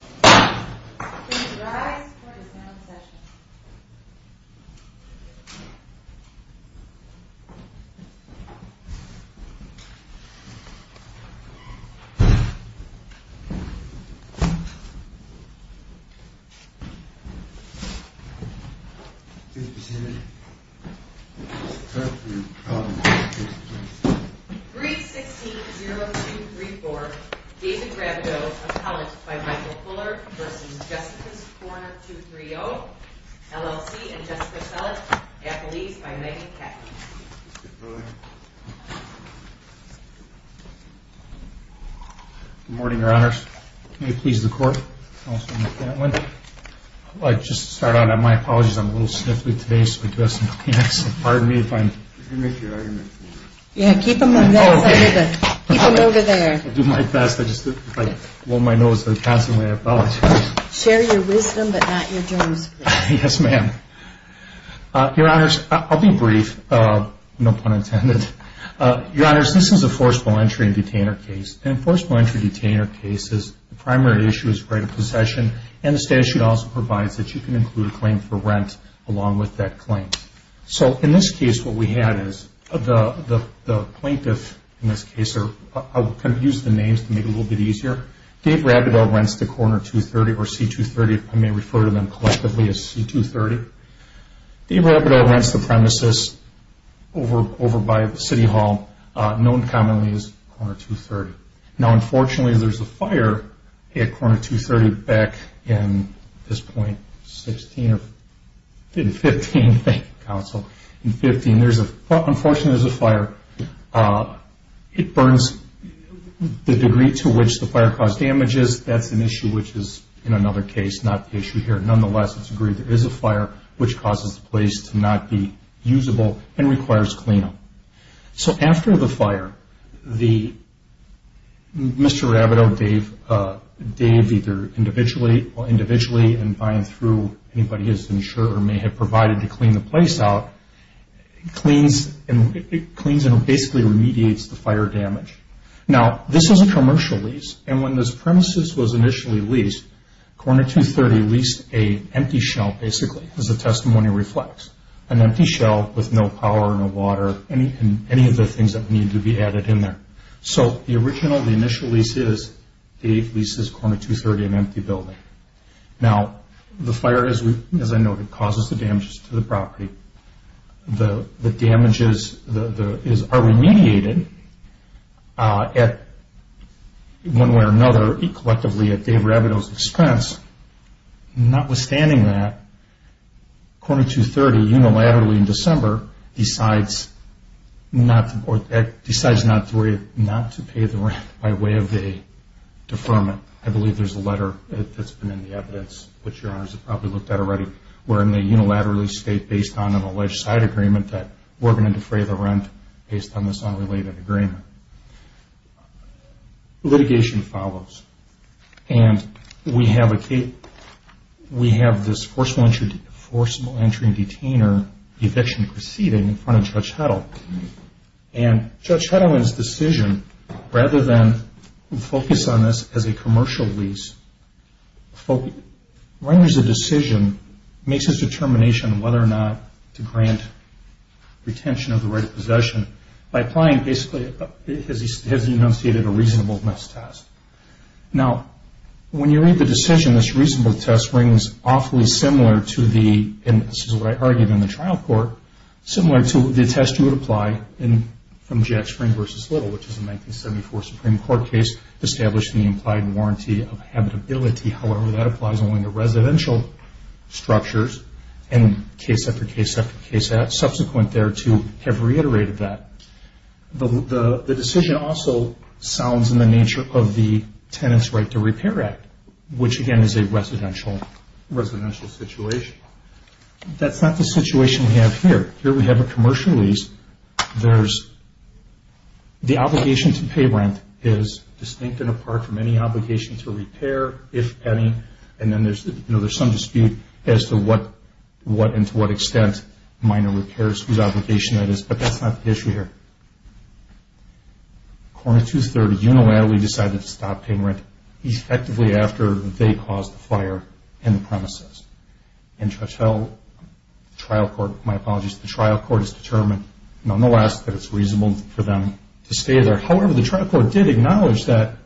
Please rise for the sound session. 3-16-0234 David Bradeau, appellate by Michael Fuller v. Jessica's Corner 230, LLC, and Jessica Sellett, appellees by Megan Catt. Good morning, your honors. May it please the court. I'd just like to start out on my apologies. I'm a little sniffly today, so I do have some Kleenex. Pardon me if I'm... You can make your argument. Yeah, keep them over there. I'll do my best. If I blow my nose, I constantly apologize. Share your wisdom, but not your germs. Yes, ma'am. Your honors, I'll be brief. No pun intended. Your honors, this is a forcible entry and detainer case. In a forcible entry and detainer case, the primary issue is right of possession, and the statute also provides that you can include a claim for rent along with that claim. In this case, what we had is the plaintiff, in this case, I'll use the names to make it a little bit easier. Dave Bradeau rents to Corner 230, or C-230. I may refer to them collectively as C-230. Dave Bradeau rents the premises over by City Hall, known commonly as Corner 230. Now, unfortunately, there's a fire at Corner 230 back in this point, 16 or... In 15, thank you, counsel. In 15, unfortunately, there's a fire. It burns the degree to which the fire caused damages. That's an issue which is, in another case, not the issue here. Nonetheless, it's agreed there is a fire, which causes the place to not be usable and requires cleanup. So after the fire, Mr. Rabideau, Dave, either individually or individually, and by and through anybody who's insured or may have provided to clean the place out, cleans and basically remediates the fire damage. Now, this is a commercial lease, and when this premises was initially leased, Corner 230 leased an empty shell, basically, as the testimony reflects. An empty shell with no power, no water, any of the things that need to be added in there. So the original, the initial lease is, Dave leases Corner 230 an empty building. Now, the fire, as I noted, causes the damages to the property. The damages are remediated at, one way or another, collectively at Dave Rabideau's expense. Notwithstanding that, Corner 230, unilaterally in December, decides not to pay the rent by way of a deferment. I believe there's a letter that's been in the evidence, which Your Honors have probably looked at already, wherein they unilaterally state, based on an alleged side agreement, that we're going to defray the rent based on this unrelated agreement. Litigation follows. And we have this forcible entry and detainer eviction proceeding in front of Judge Heddle. And Judge Heddle, in his decision, rather than focus on this as a commercial lease, renders a decision, makes his determination on whether or not to grant retention of the right of possession by applying basically, as he has enunciated, a reasonableness test. Now, when you read the decision, this reasonableness test rings awfully similar to the, and this is what I argued in the trial court, similar to the test you would apply from Jack Spring v. Little, which is a 1974 Supreme Court case establishing the implied warranty of habitability. However, that applies only to residential structures. And case after case after case subsequent there to have reiterated that. The decision also sounds in the nature of the Tenants' Right to Repair Act, which again is a residential situation. That's not the situation we have here. Here we have a commercial lease. There's the obligation to pay rent is distinct and apart from any obligation to repair, if any. And then there's some dispute as to what and to what extent minor repairs, whose obligation that is. But that's not the issue here. Coroner 230 unilaterally decided to stop paying rent effectively after they caused the fire in the premises. And Judge Heddle, the trial court, my apologies, the trial court has determined, nonetheless, that it's reasonable for them to stay there. However, the trial court did acknowledge that,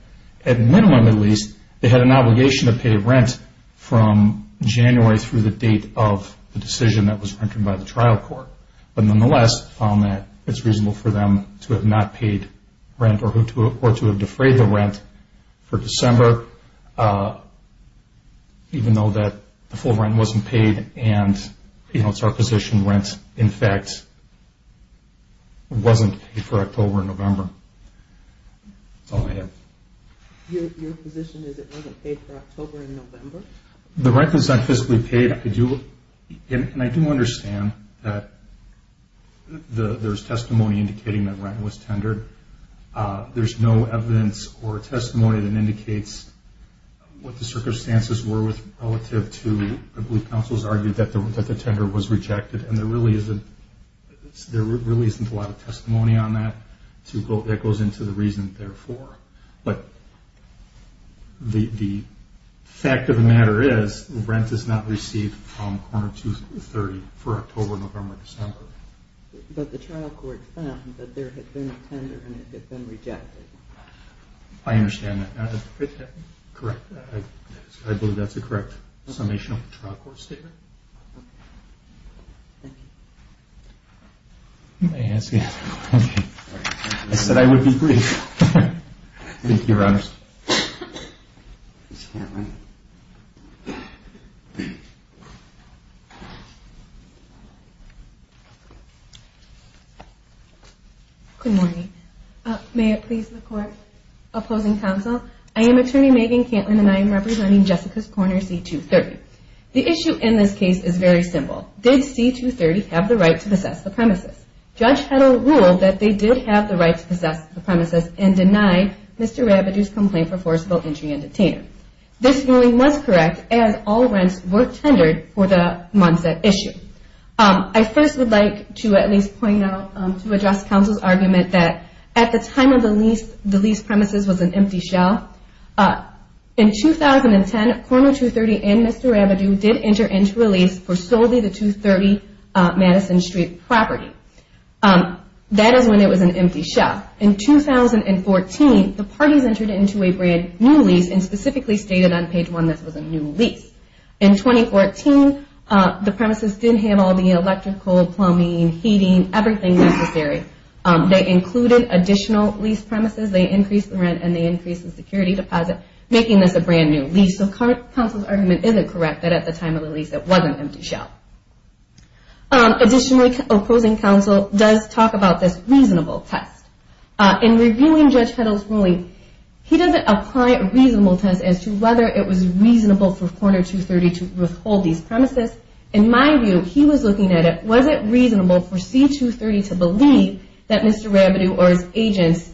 at minimum at least, they had an obligation to pay rent from January through the date of the decision that was entered by the trial court. But nonetheless, found that it's reasonable for them to have not paid rent or to have defrayed the rent for December, even though that the full rent wasn't paid and it's our position rent, in fact, wasn't paid for October and November. That's all I have. Your position is it wasn't paid for October and November? The rent was not fiscally paid. And I do understand that there's testimony indicating that rent was tendered. There's no evidence or testimony that indicates what the circumstances were relative to, I believe counsel has argued that the tender was rejected, and there really isn't a lot of testimony on that that goes into the reason therefore. But the fact of the matter is rent is not received from Coroner 230 for October, November, December. But the trial court found that there had been a tender and it had been rejected. I understand that. Is that correct? I believe that's a correct summation of the trial court statement. Thank you. May I ask you a question? I said I would be brief. Thank you, Your Honors. Ms. Cantlin. Good morning. May it please the Court. Opposing counsel, I am Attorney Megan Cantlin and I am representing Jessica's Coroner C-230. The issue in this case is very simple. Did C-230 have the right to possess the premises? Judge Heddle ruled that they did have the right to possess the premises and denied Mr. Rabideau's complaint for forcible entry and detainment. This ruling was correct as all rents were tendered for the Monset issue. I first would like to at least point out to address counsel's argument that at the time of the lease, the lease premises was an empty shell. In 2010, Coroner 230 and Mr. Rabideau did enter into a lease for solely the 230 Madison Street property. That is when it was an empty shell. In 2014, the parties entered into a brand new lease and specifically stated on page 1 this was a new lease. In 2014, the premises did have all the electrical, plumbing, heating, everything necessary. They included additional lease premises. They increased the rent and they increased the security deposit, making this a brand new lease. So counsel's argument isn't correct that at the time of the lease it was an empty shell. Additionally, opposing counsel does talk about this reasonable test. In reviewing Judge Heddle's ruling, he doesn't apply a reasonable test as to whether it was reasonable for Coroner 230 to withhold these premises. In my view, he was looking at it, was it reasonable for C-230 to believe that Mr. Rabideau or his agents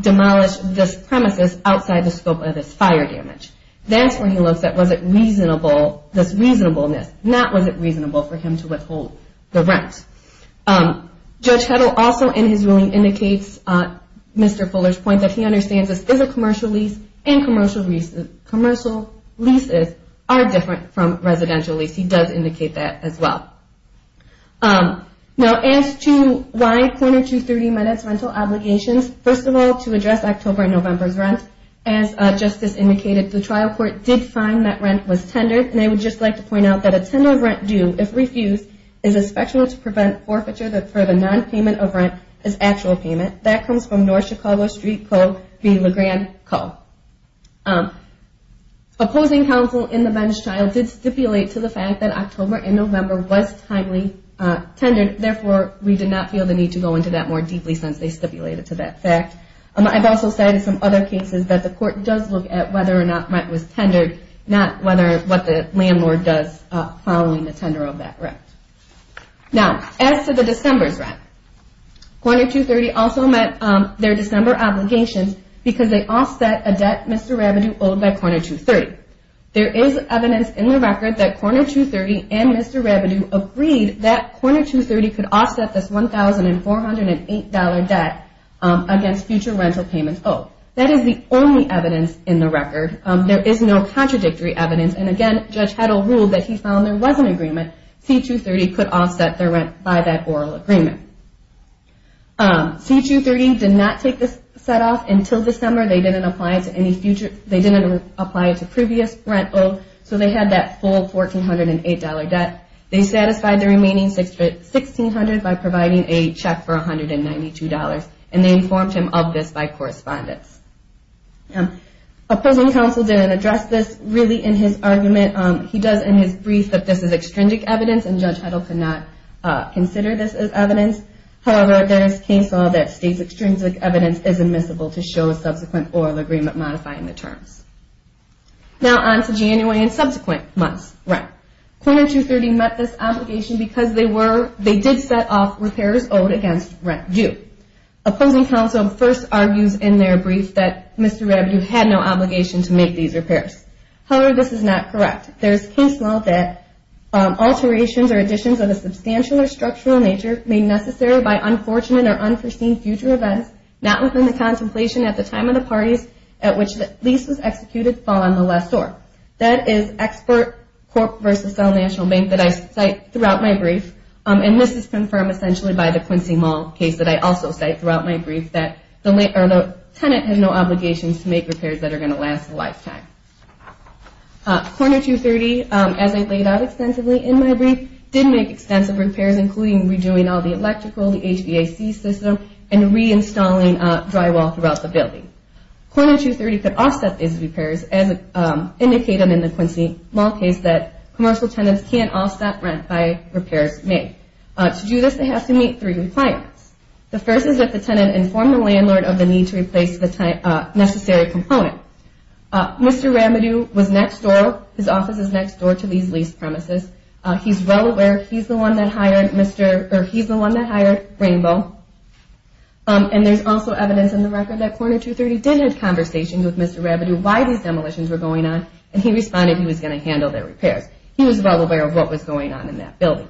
demolished this premises outside the scope of this fire damage. That's when he looks at was it reasonable, this reasonableness, not was it reasonable for him to withhold the rent. Judge Heddle also in his ruling indicates Mr. Fuller's point that he understands this is a commercial lease and commercial leases are different from residential leases. He does indicate that as well. Now as to why Coroner 230 met its rental obligations, first of all to address October and November's rent. As Justice indicated, the trial court did find that rent was tendered. And I would just like to point out that a tender of rent due if refused is a special to prevent forfeiture that for the nonpayment of rent is actual payment. That comes from North Chicago Street Co. v. LeGrand Co. Opposing counsel in the bench trial did stipulate to the fact that October and November was timely tendered. Therefore, we did not feel the need to go into that more deeply since they stipulated to that fact. I've also cited some other cases that the court does look at whether or not rent was tendered, not what the landlord does following the tender of that rent. Now as to the December's rent, Coroner 230 also met their December obligations because they offset a debt Mr. Rabideau owed by Coroner 230. There is evidence in the record that Coroner 230 and Mr. Rabideau agreed that Coroner 230 could offset this $1,408 debt against future rental payments owed. That is the only evidence in the record. There is no contradictory evidence. And again, Judge Heddle ruled that he found there was an agreement. C-230 could offset their rent by that oral agreement. C-230 did not take this set off until December. They didn't apply it to previous rent owed. So they had that full $1,408 debt. They satisfied the remaining $1,600 by providing a check for $192, and they informed him of this by correspondence. A prison counsel didn't address this really in his argument. He does in his brief that this is extrinsic evidence, and Judge Heddle could not consider this as evidence. However, there is case law that states extrinsic evidence is admissible to show a subsequent oral agreement modifying the terms. Now on to January and subsequent months' rent. C-230 met this obligation because they did set off repairs owed against rent due. Opposing counsel first argues in their brief that Mr. Rabideau had no obligation to make these repairs. However, this is not correct. There is case law that alterations or additions of a substantial or structural nature made necessary by unfortunate or unforeseen future events, not within the contemplation at the time of the parties at which the lease was executed, fall on the less sore. That is Export Corp. v. Cell National Bank that I cite throughout my brief, and this is confirmed essentially by the Quincy Mall case that I also cite throughout my brief, that the tenant has no obligations to make repairs that are going to last a lifetime. C-230, as I laid out extensively in my brief, did make extensive repairs, including redoing all the electrical, the HVAC system, and reinstalling drywall throughout the building. C-230 could offset these repairs, as indicated in the Quincy Mall case, that commercial tenants can't offset rent by repairs made. To do this, they have to meet three requirements. The first is that the tenant inform the landlord of the need to replace the necessary component. Mr. Rabideau was next door. His office is next door to these lease premises. He's well aware he's the one that hired Rainbow, and there's also evidence in the record that C-230 did have conversations with Mr. Rabideau why these demolitions were going on, and he responded he was going to handle their repairs. He was well aware of what was going on in that building.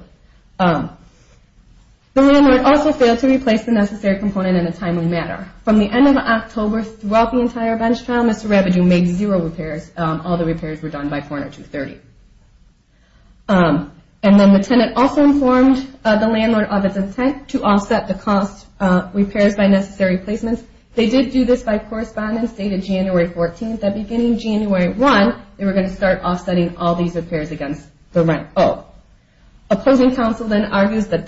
The landlord also failed to replace the necessary component in a timely manner. From the end of October throughout the entire bench trial, Mr. Rabideau made zero repairs. All the repairs were done by C-230. The tenant also informed the landlord of its intent to offset the cost repairs by necessary placements. They did do this by correspondence dated January 14th, and beginning January 1, they were going to start offsetting all these repairs against the rent. Opposing counsel then argues in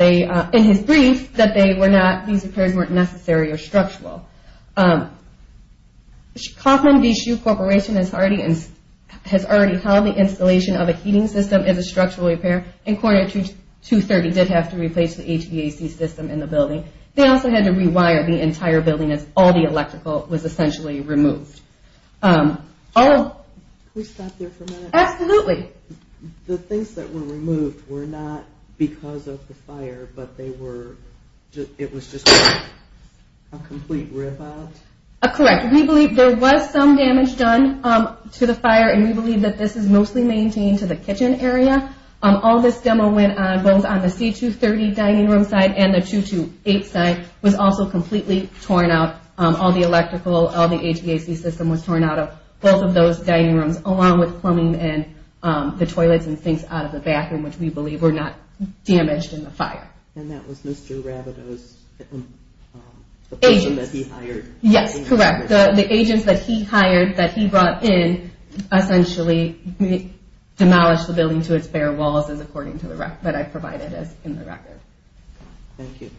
his brief that these repairs weren't necessary or structural. Kauffman V. Shue Corporation has already held the installation of a heating system as a structural repair, and C-230 did have to replace the HVAC system in the building. They also had to rewire the entire building as all the electrical was essentially removed. Can we stop there for a minute? Absolutely. The things that were removed were not because of the fire, but it was just a complete rip out? Correct. We believe there was some damage done to the fire, and we believe that this is mostly maintained to the kitchen area. All this demo went on both on the C-230 dining room side and the C-228 side. It was also completely torn out. All the electrical, all the HVAC system was torn out of both of those dining rooms, along with plumbing and the toilets and things out of the bathroom, which we believe were not damaged in the fire. And that was Mr. Rabideau's, the person that he hired? Yes, correct. The agents that he hired, that he brought in, essentially demolished the building to its bare walls, according to the record that I provided in the record. Thank you.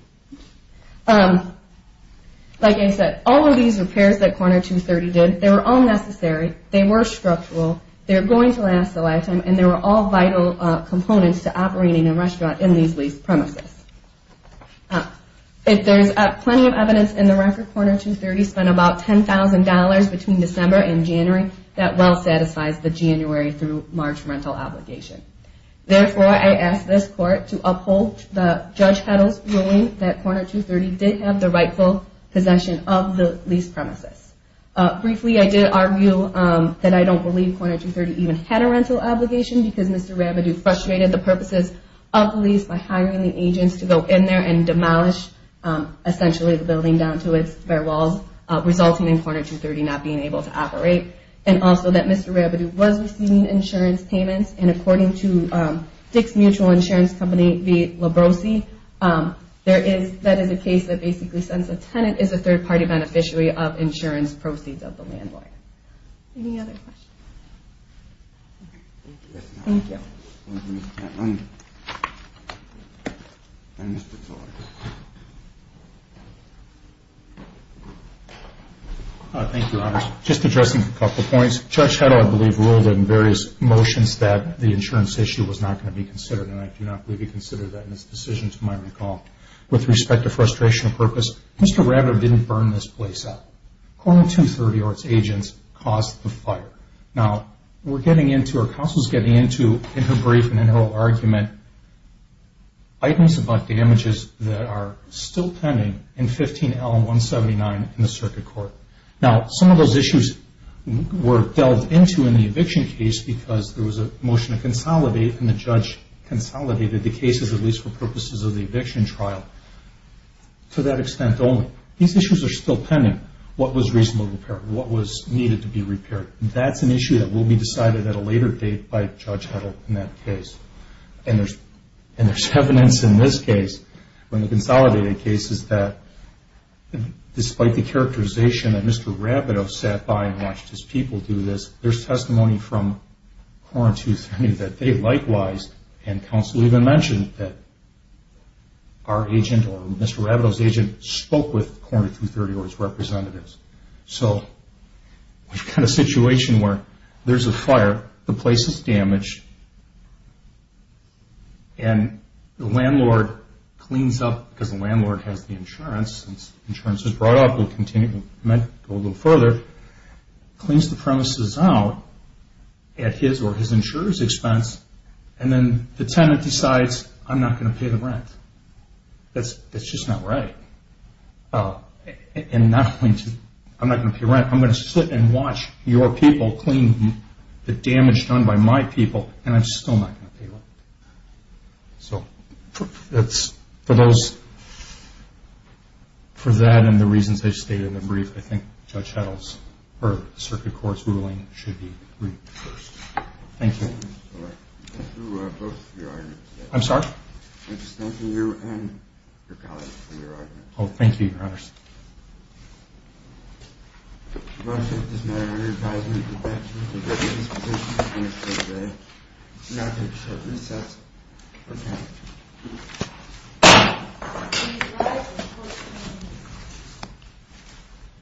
Like I said, all of these repairs that C-230 did, they were all necessary, they were structural, they were going to last a lifetime, and they were all vital components to operating a restaurant in these leased premises. If there's plenty of evidence in the record, C-230 spent about $10,000 between December and January. That well satisfies the January through March rental obligation. Therefore, I ask this court to uphold the judge's ruling that C-230 did have the rightful possession of the leased premises. Briefly, I did argue that I don't believe C-230 even had a rental obligation because Mr. Rabideau frustrated the purposes of the lease by hiring the agents to go in there and demolish, essentially, the building down to its bare walls, resulting in C-230 not being able to operate. And also that Mr. Rabideau was receiving insurance payments, and according to Dick's Mutual Insurance Company v. Labrosi, that is a case that basically sends a tenant as a third-party beneficiary of insurance proceeds of the landlord. Any other questions? Thank you. Thank you, Your Honors. Just addressing a couple of points. Judge Heddle, I believe, ruled in various motions that the insurance issue was not going to be considered, and I do not believe he considered that in his decision, to my recall. With respect to frustration of purpose, Mr. Rabideau didn't burn this place up. C-230 or its agents caused the fire. Now, we're getting into, or counsel's getting into in her brief and in her argument, items about damages that are still pending in 15L-179 in the circuit court. Now, some of those issues were delved into in the eviction case because there was a motion to consolidate, and the judge consolidated the cases, at least for purposes of the eviction trial, to that extent only. These issues are still pending. What was reasonably repaired? What was needed to be repaired? That's an issue that will be decided at a later date by Judge Heddle in that case. And there's evidence in this case, in the consolidated cases, that despite the characterization that Mr. Rabideau sat by and watched his people do this, there's testimony from C-230 that they likewise, and counsel even mentioned that our agent or Mr. Rabideau's agent spoke with C-230 or its representatives. So we've got a situation where there's a fire, the place is damaged, and the landlord cleans up, because the landlord has the insurance, and since the insurance was brought up, it might go a little further, cleans the premises out at his or his insurer's expense, and then the tenant decides, I'm not going to pay the rent. That's just not right. I'm not going to pay rent. I'm going to sit and watch your people clean the damage done by my people, and I'm still not going to pay rent. So for that and the reasons I stated in the brief, I think Judge Heddle's or Circuit Court's ruling should be read first. Thank you. Thank you both for your arguments. I'm sorry? I'm just thanking you and your colleagues for your arguments. Oh, thank you, Your Honor. Thank you.